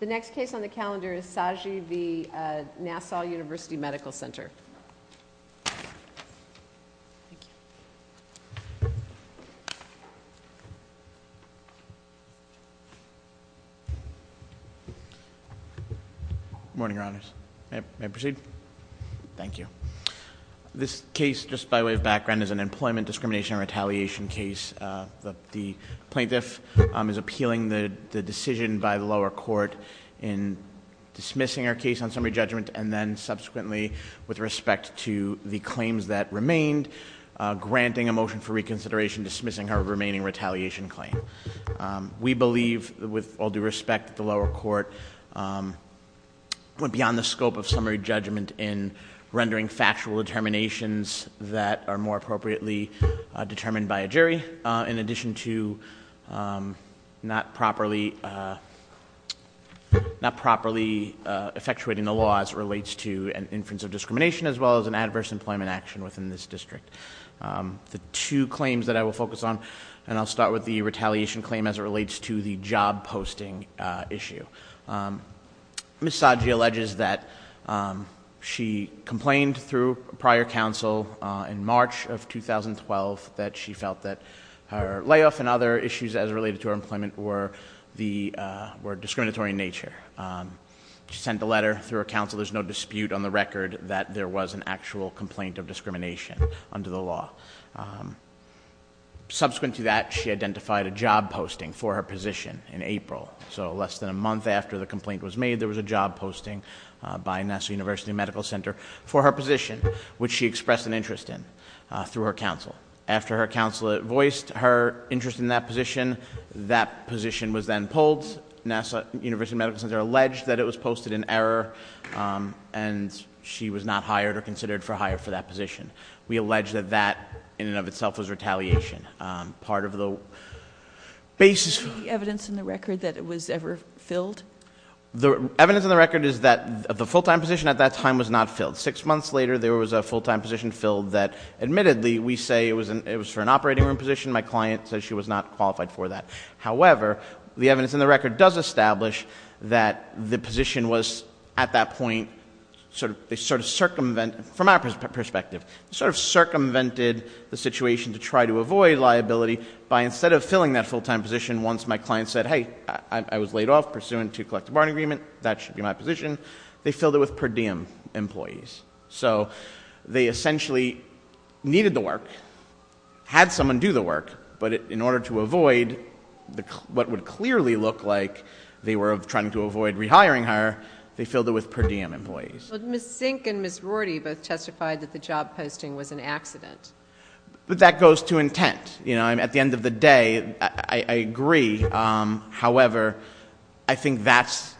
The next case on the calendar is Saji v. Nassau University Medical Center. Good morning, Your Honors. May I proceed? Thank you. This case, just by way of background, is an employment discrimination and retaliation case. The plaintiff is appealing the decision by the lower court in dismissing her case on summary judgment and then subsequently, with respect to the claims that remained, granting a motion for reconsideration, dismissing her remaining retaliation claim. We believe, with all due respect, that the lower court went beyond the scope of summary judgment in rendering factual determinations that are more appropriately determined by a jury, in addition to not properly effectuating the law as it relates to an inference of discrimination as well as an adverse employment action within this district. The two claims that I will focus on, and I'll start with the retaliation claim as it relates to the job posting issue. Ms. Saji alleges that she complained through prior counsel in March of 2012 that she felt that her layoff and other issues as related to her employment were discriminatory in nature. She sent a letter through her counsel. There's no dispute on the record that there was an actual complaint of discrimination under the law. Subsequent to that, she identified a job posting for her position in April. So less than a month after the complaint was made, there was a job posting by NASA University Medical Center for her position, which she expressed an interest in through her counsel. After her counsel voiced her interest in that position, that position was then pulled. NASA University Medical Center alleged that it was posted in error and she was not hired or considered for hire for that position. We allege that that, in and of itself, was retaliation. Part of the basis- Is there any evidence in the record that it was ever filled? The evidence in the record is that the full-time position at that time was not filled. Six months later, there was a full-time position filled that, admittedly, we say it was for an operating room position. My client said she was not qualified for that. However, the evidence in the record does establish that the position was, at that point, from our perspective, sort of circumvented the situation to try to avoid liability by, instead of filling that full-time position once my client said, hey, I was laid off pursuant to collective bargaining agreement, that should be my position, they filled it with per diem employees. So they essentially needed the work, had someone do the work, but in order to avoid what would clearly look like they were trying to avoid rehiring her, they filled it with per diem employees. Ms. Zink and Ms. Rorty both testified that the job posting was an accident. But that goes to intent. At the end of the day, I agree. However, I think that's,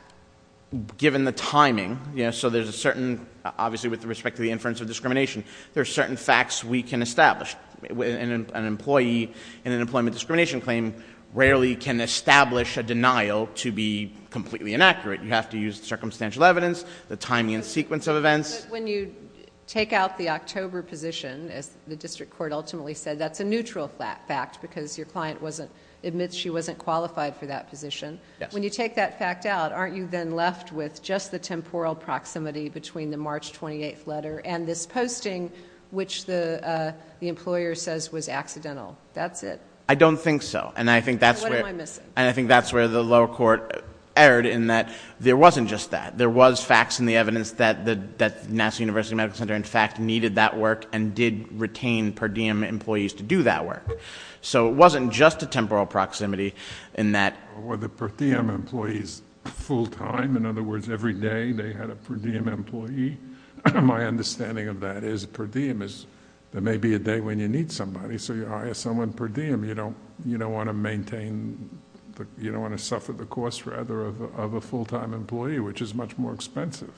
given the timing, so there's a certain, obviously with respect to the inference of discrimination, there's certain facts we can establish. An employee in an employment discrimination claim rarely can establish a denial to be completely inaccurate. You have to use the circumstantial evidence, the timing and sequence of events. But when you take out the October position, as the district court ultimately said, that's a neutral fact because your client admits she wasn't qualified for that position. When you take that fact out, aren't you then left with just the temporal proximity between the March 28th letter and this posting which the employer says was accidental? That's it? I don't think so. What am I missing? I think that's where the lower court erred in that there wasn't just that. There was facts in the evidence that the National University Medical Center, in fact, needed that work and did retain per diem employees to do that work. So it wasn't just a temporal proximity in that. Were the per diem employees full time? In other words, every day they had a per diem employee? My understanding of that is per diem is there may be a day when you need somebody, so you hire someone per diem. You don't want to maintain, you don't want to suffer the cost, rather, of a full time employee, which is much more expensive.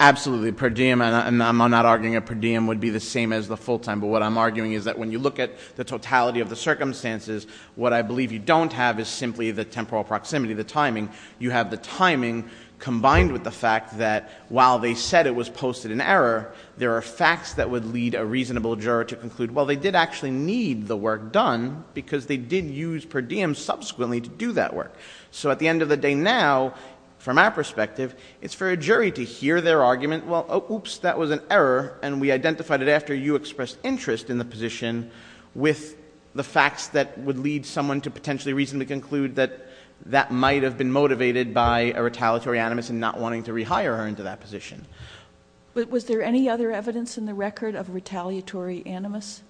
Absolutely. Per diem, and I'm not arguing a per diem would be the same as the full time, but what I'm arguing is that when you look at the totality of the circumstances, what I believe you don't have is simply the temporal proximity, the timing. You have the timing combined with the fact that while they said it was posted in error, there are facts that would lead a reasonable juror to conclude, well, they did actually need the work done because they did use per diem subsequently to do that work. So at the end of the day now, from our perspective, it's for a jury to hear their argument, well, oops, that was an error, and we identified it after you expressed interest in the position with the facts that would lead someone to potentially reasonably conclude that that might have been motivated by a retaliatory animus and not wanting to rehire her into that position. Was there any other evidence in the record of retaliatory animus?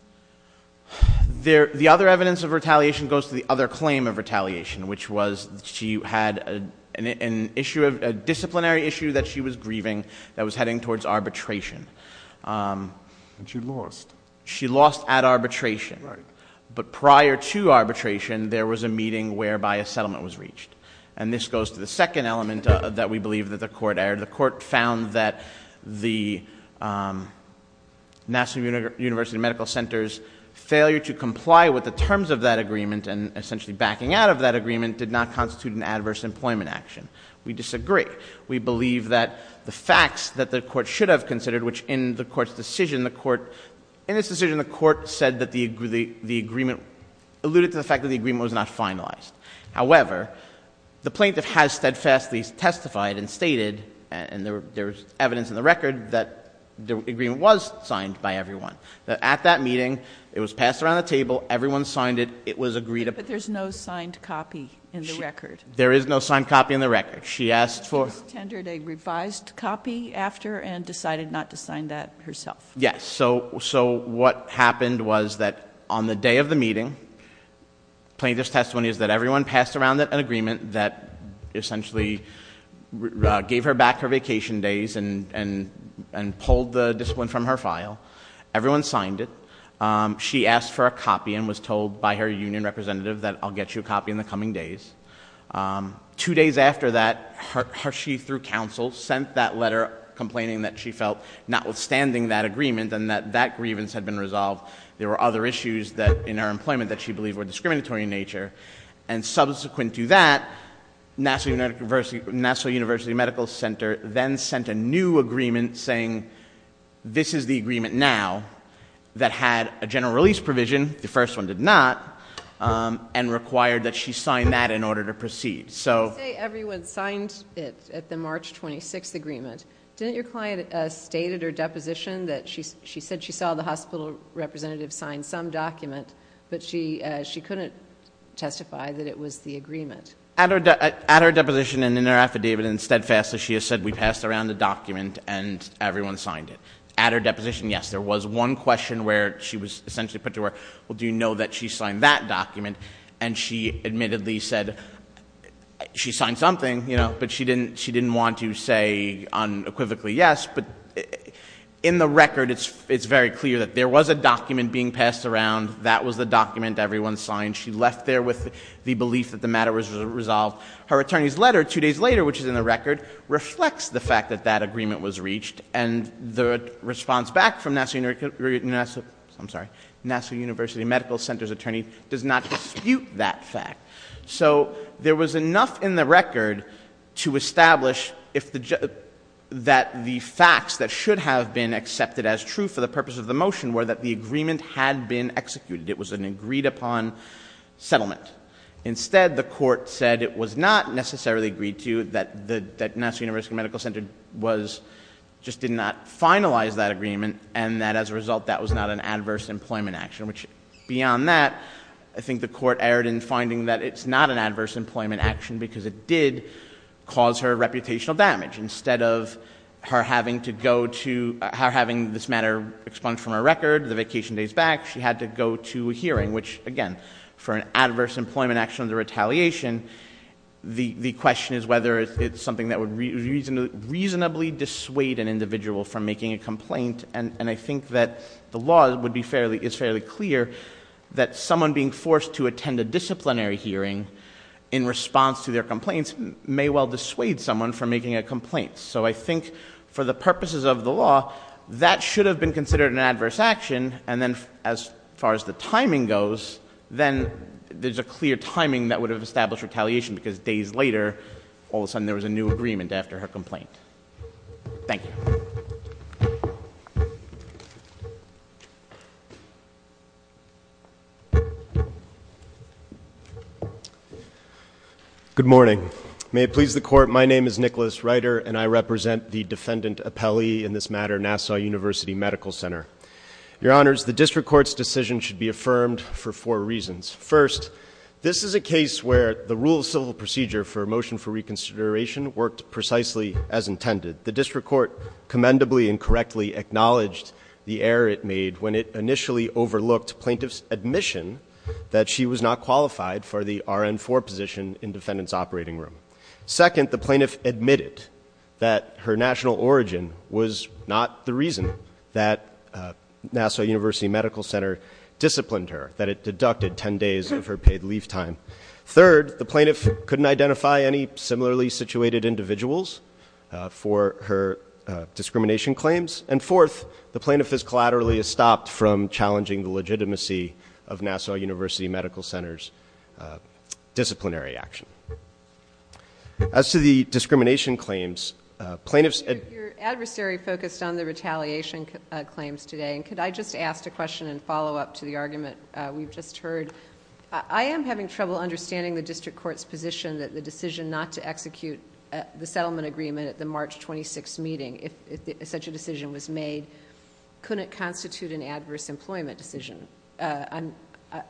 The other evidence of retaliation goes to the other claim of retaliation, which was that she had an issue, a disciplinary issue that she was grieving that was heading towards arbitration. And she lost. She lost at arbitration. But prior to arbitration, there was a meeting whereby a settlement was reached. And this goes to the second element that we believe that the court errored. The court found that the National University Medical Center's failure to comply with the terms of that agreement and essentially backing out of that agreement did not constitute an adverse employment action. We disagree. We believe that the facts that the court should have considered, which in the court's decision, the court said that the agreement alluded to the fact that the agreement was not finalized. However, the plaintiff has steadfastly testified and stated, and there's evidence in the record, that the agreement was signed by everyone. At that meeting, it was passed around the table. Everyone signed it. It was agreed upon. But there's no signed copy in the record. There is no signed copy in the record. She asked for... She was tendered a revised copy after and decided not to sign that herself. Yes. So what happened was that on the day of the meeting, plaintiff's testimony is that everyone passed around an agreement that essentially gave her back her vacation days and pulled the discipline from her file. Everyone signed it. She asked for a copy and was told by her union representative that I'll get you a copy in the coming days. Two days after that, she, through counsel, sent that letter complaining that she felt notwithstanding that agreement and that that grievance had been resolved, there were other issues in her employment that she believed were discriminatory in nature. And subsequent to that, Nassau University Medical Center then sent a new agreement saying this is the agreement now that had a general release provision. The first one did not. And required that she sign that in order to proceed. You say everyone signed it at the March 26th agreement. Didn't your client state at her deposition that she said she saw the hospital representative sign some document, but she couldn't testify that it was the agreement? At her deposition and in her affidavit and steadfastly, she has said we passed around the document and everyone signed it. At her deposition, yes. There was one question where she was essentially put to work. Well, do you know that she signed that document? And she admittedly said she signed something, you know, but she didn't want to say unequivocally yes. But in the record, it's very clear that there was a document being passed around. That was the document everyone signed. She left there with the belief that the matter was resolved. Her attorney's letter two days later, which is in the record, reflects the fact that that agreement was reached. And the response back from NASA, I'm sorry, NASA University Medical Center's attorney does not dispute that fact. So there was enough in the record to establish that the facts that should have been accepted as true for the purpose of the motion were that the agreement had been executed. It was an agreed upon settlement. Instead, the court said it was not necessarily agreed to, that NASA University Medical Center just did not finalize that agreement, and that as a result that was not an adverse employment action. Beyond that, I think the court erred in finding that it's not an adverse employment action because it did cause her reputational damage. Instead of her having this matter expunged from her record the vacation days back, she actually had to go to a hearing, which again, for an adverse employment action under retaliation, the question is whether it's something that would reasonably dissuade an individual from making a complaint. And I think that the law is fairly clear that someone being forced to attend a disciplinary hearing in response to their complaints may well dissuade someone from making a complaint. So I think for the purposes of the law, that should have been considered an adverse action, and then as far as the timing goes, then there's a clear timing that would have established retaliation because days later, all of a sudden there was a new agreement after her complaint. Thank you. Good morning. May it please the court, my name is Nicholas Reiter, and I represent the defendant appellee in this matter, NASA University Medical Center. Your honors, the district court's decision should be affirmed for four reasons. First, this is a case where the rule of civil procedure for a motion for reconsideration worked precisely as intended. The district court commendably and correctly acknowledged the error it made when it initially overlooked plaintiff's admission that she was not qualified for the RN-4 position in defendant's operating room. Second, the plaintiff admitted that her national origin was not the reason that NASA University Medical Center disciplined her, that it deducted 10 days of her paid leave time. Third, the plaintiff couldn't identify any similarly situated individuals for her discrimination claims. And fourth, the plaintiff has collaterally stopped from challenging the legitimacy of NASA University Medical Center's disciplinary action. As to the discrimination claims, plaintiffs- Your adversary focused on the retaliation claims today, and could I just ask a question in follow-up to the argument we've just heard? I am having trouble understanding the district court's position that the decision not to execute the settlement agreement at the March 26th meeting, if such a decision was made, couldn't constitute an adverse employment decision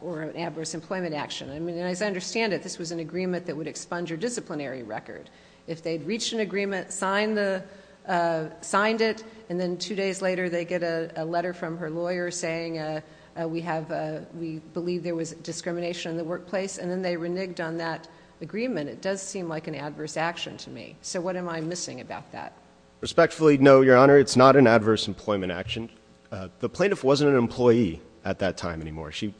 or an adverse employment action. And as I understand it, this was an agreement that would expunge your disciplinary record. If they'd reached an agreement, signed it, and then two days later they get a letter from her lawyer saying, we believe there was discrimination in the workplace, and then they reneged on that agreement, it does seem like an adverse action to me. So what am I missing about that? Respectfully, no, Your Honor, it's not an adverse employment action. The plaintiff wasn't an employee at that time anymore. She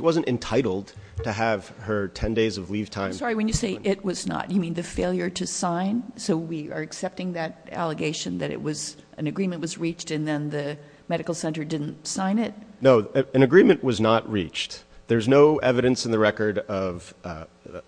wasn't entitled to have her 10 days of leave time- I'm sorry, when you say it was not, you mean the failure to sign? So we are accepting that allegation that an agreement was reached and then the medical center didn't sign it? No, an agreement was not reached. There's no evidence in the record of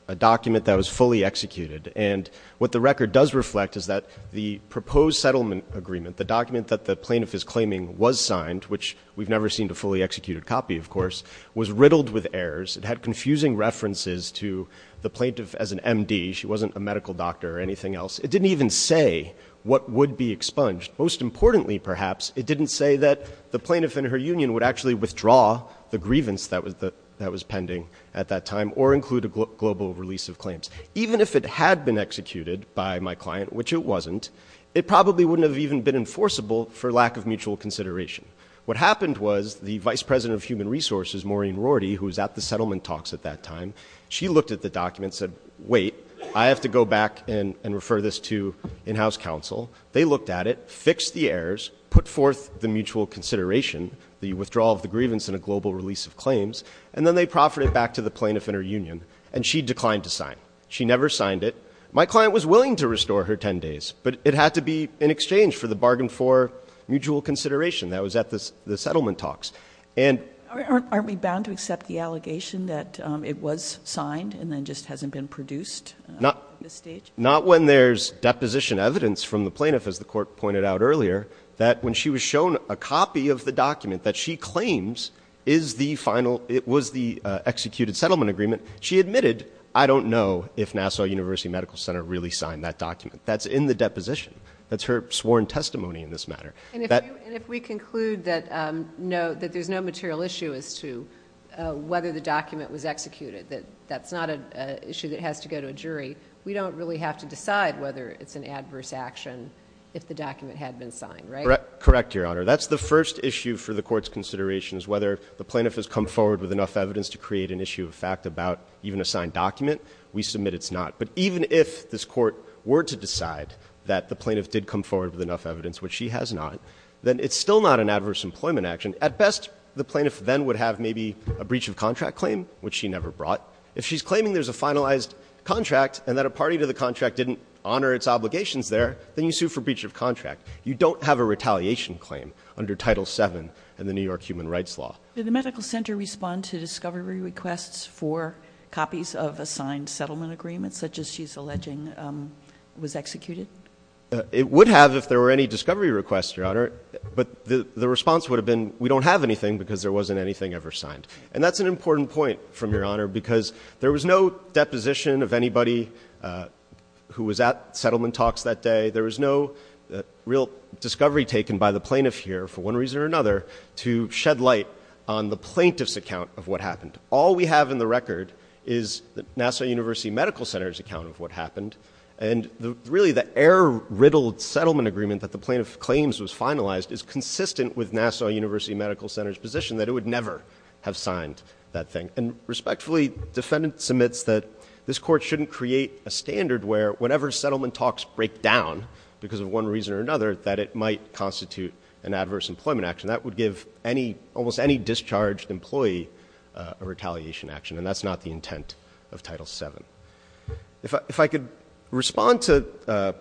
a document that was fully executed. And what the record does reflect is that the proposed settlement agreement, the document that the plaintiff is claiming was signed, which we've never seen a fully executed copy, of course, was riddled with errors. It had confusing references to the plaintiff as an M.D. She wasn't a medical doctor or anything else. It didn't even say what would be expunged. Most importantly, perhaps, it didn't say that the plaintiff and her union would actually withdraw the grievance that was pending at that time or include a global release of claims. Even if it had been executed by my client, which it wasn't, it probably wouldn't have even been enforceable for lack of mutual consideration. What happened was the vice president of human resources, Maureen Rorty, who was at the settlement talks at that time, she looked at the document and said, wait, I have to go back and refer this to in-house counsel. They looked at it, fixed the errors, put forth the mutual consideration, the withdrawal of the grievance and a global release of claims, and then they proffered it back to the plaintiff and her union, and she declined to sign. She never signed it. My client was willing to restore her 10 days, but it had to be in exchange for the bargain for mutual consideration that was at the settlement talks. Aren't we bound to accept the allegation that it was signed and then just hasn't been produced at this stage? Not when there's deposition evidence from the plaintiff, as the court pointed out earlier, that when she was shown a copy of the document that she claims was the executed settlement agreement, she admitted, I don't know if Nassau University Medical Center really signed that document. That's in the deposition. That's her sworn testimony in this matter. And if we conclude that there's no material issue as to whether the document was executed, that that's not an issue that has to go to a jury, we don't really have to decide whether it's an adverse action if the document had been signed, right? Correct, Your Honor. That's the first issue for the court's considerations, whether the plaintiff has come forward with enough evidence to create an issue of fact about even a signed document. We submit it's not. But even if this court were to decide that the plaintiff did come forward with enough evidence, which she has not, then it's still not an adverse employment action. And at best, the plaintiff then would have maybe a breach of contract claim, which she never brought. If she's claiming there's a finalized contract and that a party to the contract didn't honor its obligations there, then you sue for breach of contract. You don't have a retaliation claim under Title VII in the New York Human Rights Law. Did the medical center respond to discovery requests for copies of assigned settlement agreements, such as she's alleging was executed? It would have if there were any discovery requests, Your Honor. But the response would have been we don't have anything because there wasn't anything ever signed. And that's an important point from Your Honor because there was no deposition of anybody who was at settlement talks that day. There was no real discovery taken by the plaintiff here, for one reason or another, to shed light on the plaintiff's account of what happened. All we have in the record is the NASA University Medical Center's account of what happened. And really the error-riddled settlement agreement that the plaintiff claims was finalized is consistent with NASA University Medical Center's position that it would never have signed that thing. And respectfully, defendant submits that this Court shouldn't create a standard where, whenever settlement talks break down because of one reason or another, that it might constitute an adverse employment action. That would give almost any discharged employee a retaliation action, and that's not the intent of Title VII. If I could respond to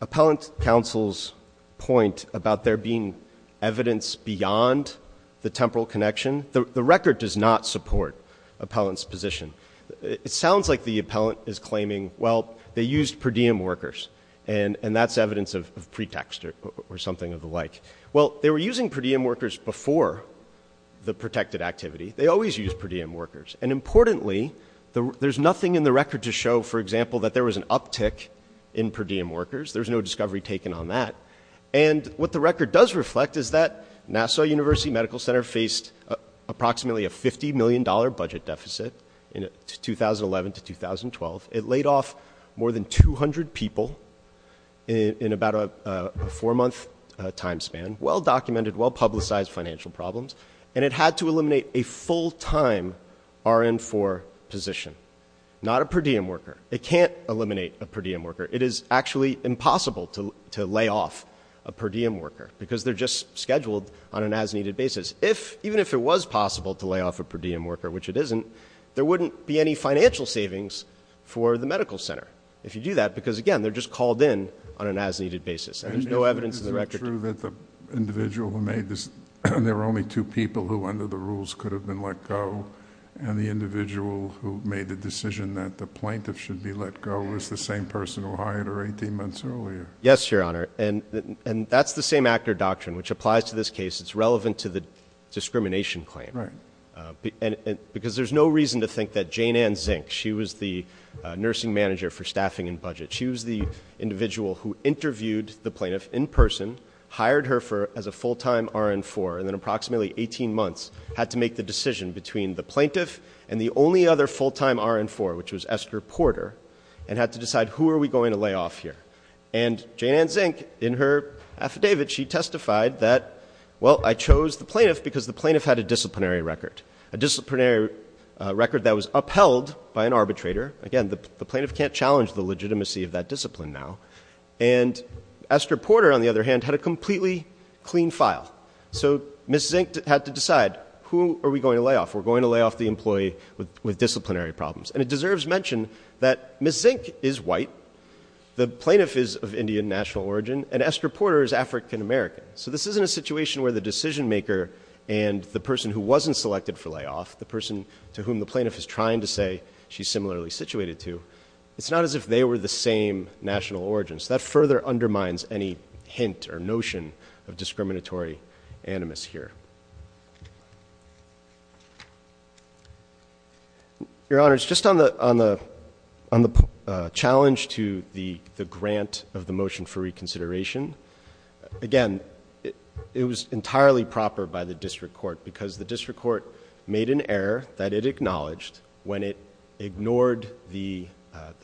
Appellant Counsel's point about there being evidence beyond the temporal connection, the record does not support Appellant's position. It sounds like the appellant is claiming, well, they used per diem workers, and that's evidence of pretext or something of the like. Well, they were using per diem workers before the protected activity. They always used per diem workers. And importantly, there's nothing in the record to show, for example, that there was an uptick in per diem workers. There's no discovery taken on that. And what the record does reflect is that NASA University Medical Center faced approximately a $50 million budget deficit in 2011 to 2012. It laid off more than 200 people in about a four-month time span, well-documented, well-publicized financial problems. And it had to eliminate a full-time RN-IV position, not a per diem worker. It can't eliminate a per diem worker. It is actually impossible to lay off a per diem worker because they're just scheduled on an as-needed basis. Even if it was possible to lay off a per diem worker, which it isn't, there wouldn't be any financial savings for the medical center if you do that, because, again, they're just called in on an as-needed basis, and there's no evidence in the record. Is it true that the individual who made this, and there were only two people who under the rules could have been let go, and the individual who made the decision that the plaintiff should be let go was the same person who hired her 18 months earlier? Yes, Your Honor. And that's the same actor doctrine, which applies to this case. It's relevant to the discrimination claim. Because there's no reason to think that Jane Ann Zink, she was the nursing manager for staffing and budget. She was the individual who interviewed the plaintiff in person, hired her as a full-time RN-4, and then approximately 18 months had to make the decision between the plaintiff and the only other full-time RN-4, which was Esther Porter, and had to decide who are we going to lay off here. And Jane Ann Zink, in her affidavit, she testified that, well, I chose the plaintiff because the plaintiff had a disciplinary record, a disciplinary record that was upheld by an arbitrator. Again, the plaintiff can't challenge the legitimacy of that discipline now. And Esther Porter, on the other hand, had a completely clean file. So Ms. Zink had to decide who are we going to lay off. We're going to lay off the employee with disciplinary problems. And it deserves mention that Ms. Zink is white, the plaintiff is of Indian national origin, and Esther Porter is African American. So this isn't a situation where the decision maker and the person who wasn't selected for layoff, the person to whom the plaintiff is trying to say she's similarly situated to, it's not as if they were the same national origins. That further undermines any hint or notion of discriminatory animus here. Your Honors, just on the challenge to the grant of the motion for reconsideration, again, it was entirely proper by the district court because the district court made an error that it acknowledged when it ignored the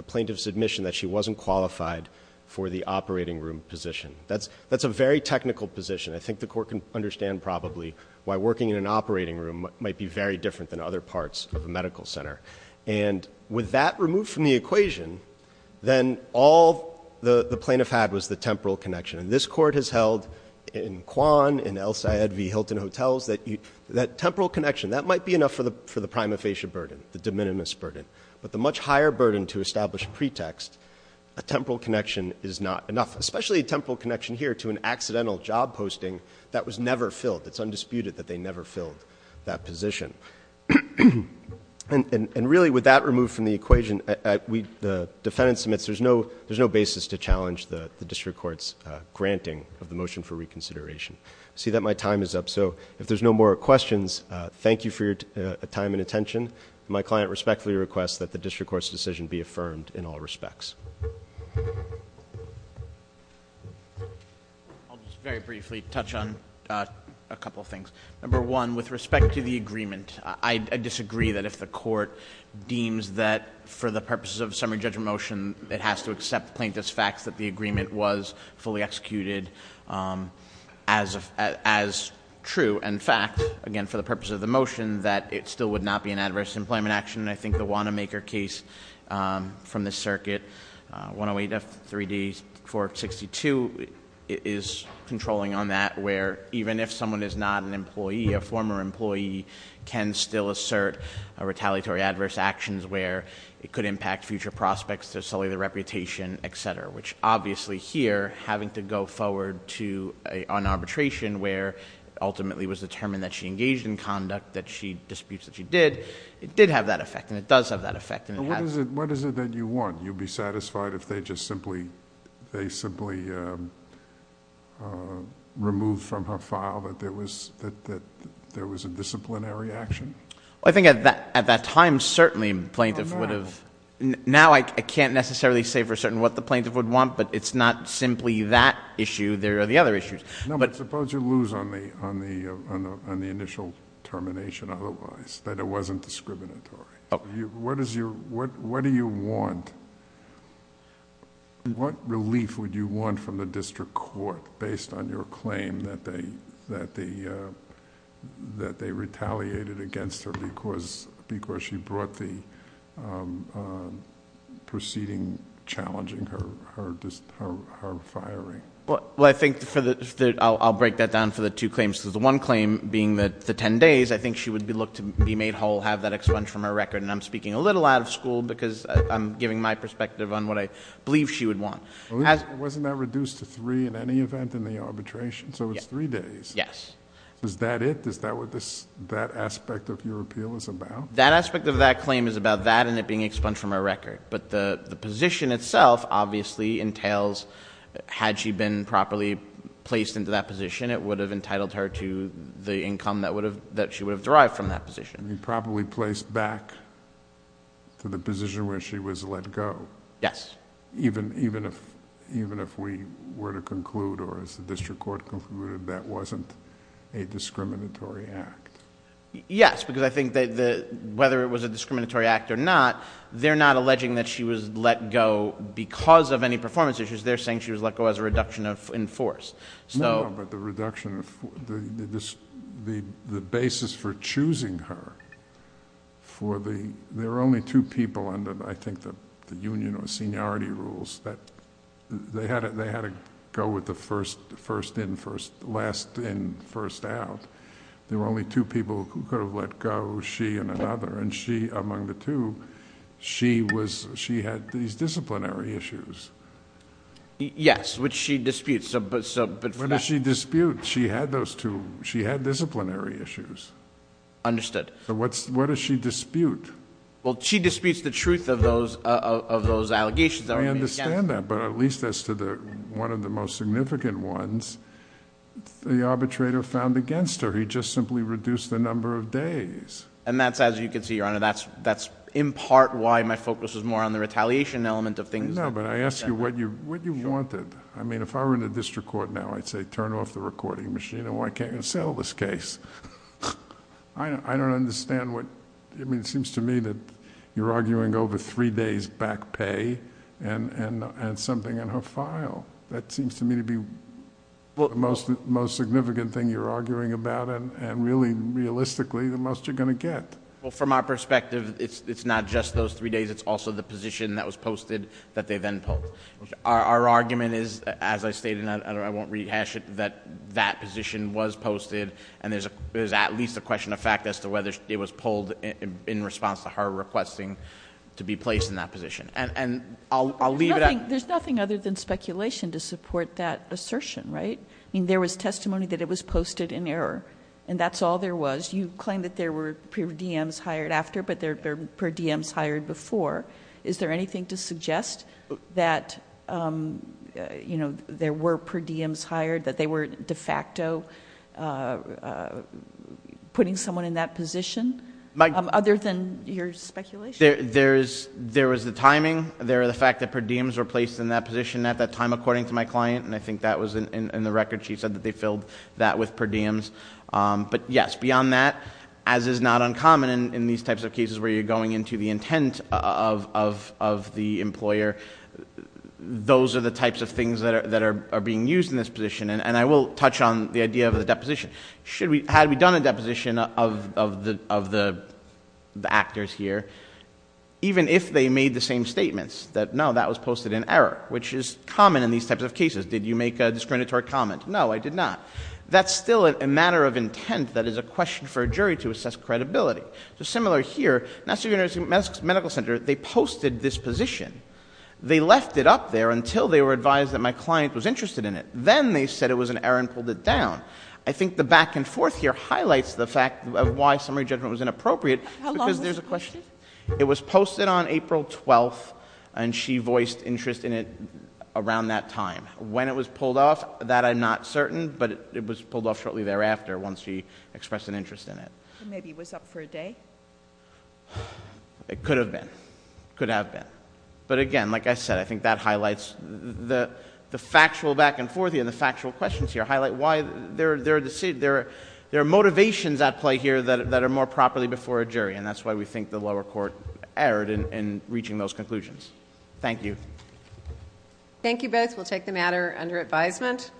plaintiff's admission that she wasn't qualified for the operating room position. That's a very technical position. I think the court can understand probably why working in an operating room might be very different than other parts of a medical center. And with that removed from the equation, then all the plaintiff had was the temporal connection. And this court has held in Kwan, in El Sayed v Hilton Hotels, that temporal connection, that might be enough for the prima facie burden, the de minimis burden. But the much higher burden to establish pretext, a temporal connection is not enough. Especially a temporal connection here to an accidental job posting that was never filled. It's undisputed that they never filled that position. And really with that removed from the equation, the defendant submits, there's no basis to challenge the district court's granting of the motion for reconsideration. I see that my time is up, so if there's no more questions, thank you for your time and attention. My client respectfully requests that the district court's decision be affirmed in all respects. I'll just very briefly touch on a couple things. Number one, with respect to the agreement, I disagree that if the court deems that for the purposes of summary judgment motion, it has to accept plaintiff's facts that the agreement was fully executed as true. In fact, again, for the purpose of the motion, that it still would not be an adverse employment action. I think the Wanamaker case from the circuit 108F3D462 is controlling on that where even if someone is not an employee, a former employee can still assert a retaliatory adverse actions where it could impact future prospects to sully their reputation, etc. Which obviously here, having to go forward to an arbitration where ultimately was determined that she engaged in conduct that she disputes that she did, it did have that effect, and it does have that effect, and it has- What is it that you want? You'd be satisfied if they just simply removed from her file that there was a disciplinary action? I think at that time, certainly plaintiff would have- Now I can't necessarily say for certain what the plaintiff would want, but it's not simply that issue. There are the other issues. But suppose you lose on the initial termination otherwise, that it wasn't discriminatory. What do you want? What relief would you want from the district court based on your claim that they retaliated against her because she brought the proceeding challenging her firing? Well, I think I'll break that down for the two claims. The one claim being that the ten days, I think she would be looked to be made whole, have that expunged from her record. And I'm speaking a little out of school because I'm giving my perspective on what I believe she would want. Wasn't that reduced to three in any event in the arbitration? So it's three days. Yes. Is that it? Is that what that aspect of your appeal is about? That aspect of that claim is about that and it being expunged from her record. But the position itself obviously entails, had she been properly placed into that position, it would have entitled her to the income that she would have derived from that position. You probably placed back to the position where she was let go. Yes. Even if we were to conclude, or as the district court concluded, that wasn't a discriminatory act. Yes, because I think that whether it was a discriminatory act or not, they're not alleging that she was let go because of any performance issues. They're saying she was let go as a reduction in force. No, but the reduction of the basis for choosing her for the... There were only two people under, I think, the union or seniority rules that they had to go with the first in, last in, first out. There were only two people who could have let go, she and another. And she, among the two, she had these disciplinary issues. Yes, which she disputes. What does she dispute? She had those two. She had disciplinary issues. Understood. So what does she dispute? Well, she disputes the truth of those allegations. I understand that, but at least as to one of the most significant ones, the arbitrator found against her. He just simply reduced the number of days. And that's, as you can see, Your Honor, that's in part why my focus is more on the retaliation element of things. No, but I ask you what you wanted. I mean, if I were in a district court now, I'd say, turn off the recording machine and why can't you sell this case? I don't understand what, I mean, it seems to me that you're arguing over three days back pay and something in her file. That seems to me to be the most significant thing you're arguing about and really, realistically, the most you're going to get. Well, from our perspective, it's not just those three days. It's also the position that was posted that they then pulled. Our argument is, as I stated, and I won't rehash it, that that position was posted. And there's at least a question of fact as to whether it was pulled in response to her requesting to be placed in that position. And I'll leave it at- There's nothing other than speculation to support that assertion, right? I mean, there was testimony that it was posted in error. And that's all there was. You claim that there were DMs hired after, but there were DMs hired before. Is there anything to suggest that there were per DMs hired, that they were de facto putting someone in that position? Other than your speculation. There was the timing, there was the fact that per DMs were placed in that position at that time according to my client. And I think that was in the record, she said that they filled that with per DMs. But yes, beyond that, as is not uncommon in these types of cases where you're going into the intent of the employer. Those are the types of things that are being used in this position. And I will touch on the idea of the deposition. Had we done a deposition of the actors here, even if they made the same statements, that no, that was posted in error, which is common in these types of cases. Did you make a discriminatory comment? No, I did not. That's still a matter of intent that is a question for a jury to assess credibility. So similar here, National University Medical Center, they posted this position. They left it up there until they were advised that my client was interested in it. Then they said it was an error and pulled it down. I think the back and forth here highlights the fact of why summary judgment was inappropriate because there's a question. It was posted on April 12th and she voiced interest in it around that time. When it was pulled off, that I'm not certain, but it was pulled off shortly thereafter once she expressed an interest in it. Maybe it was up for a day? It could have been. Could have been. But again, like I said, I think that highlights the factual back and forth here and the factual questions here. Highlight why there are motivations at play here that are more properly before a jury. And that's why we think the lower court erred in reaching those conclusions. Thank you. Thank you both. We'll take the matter under advisement.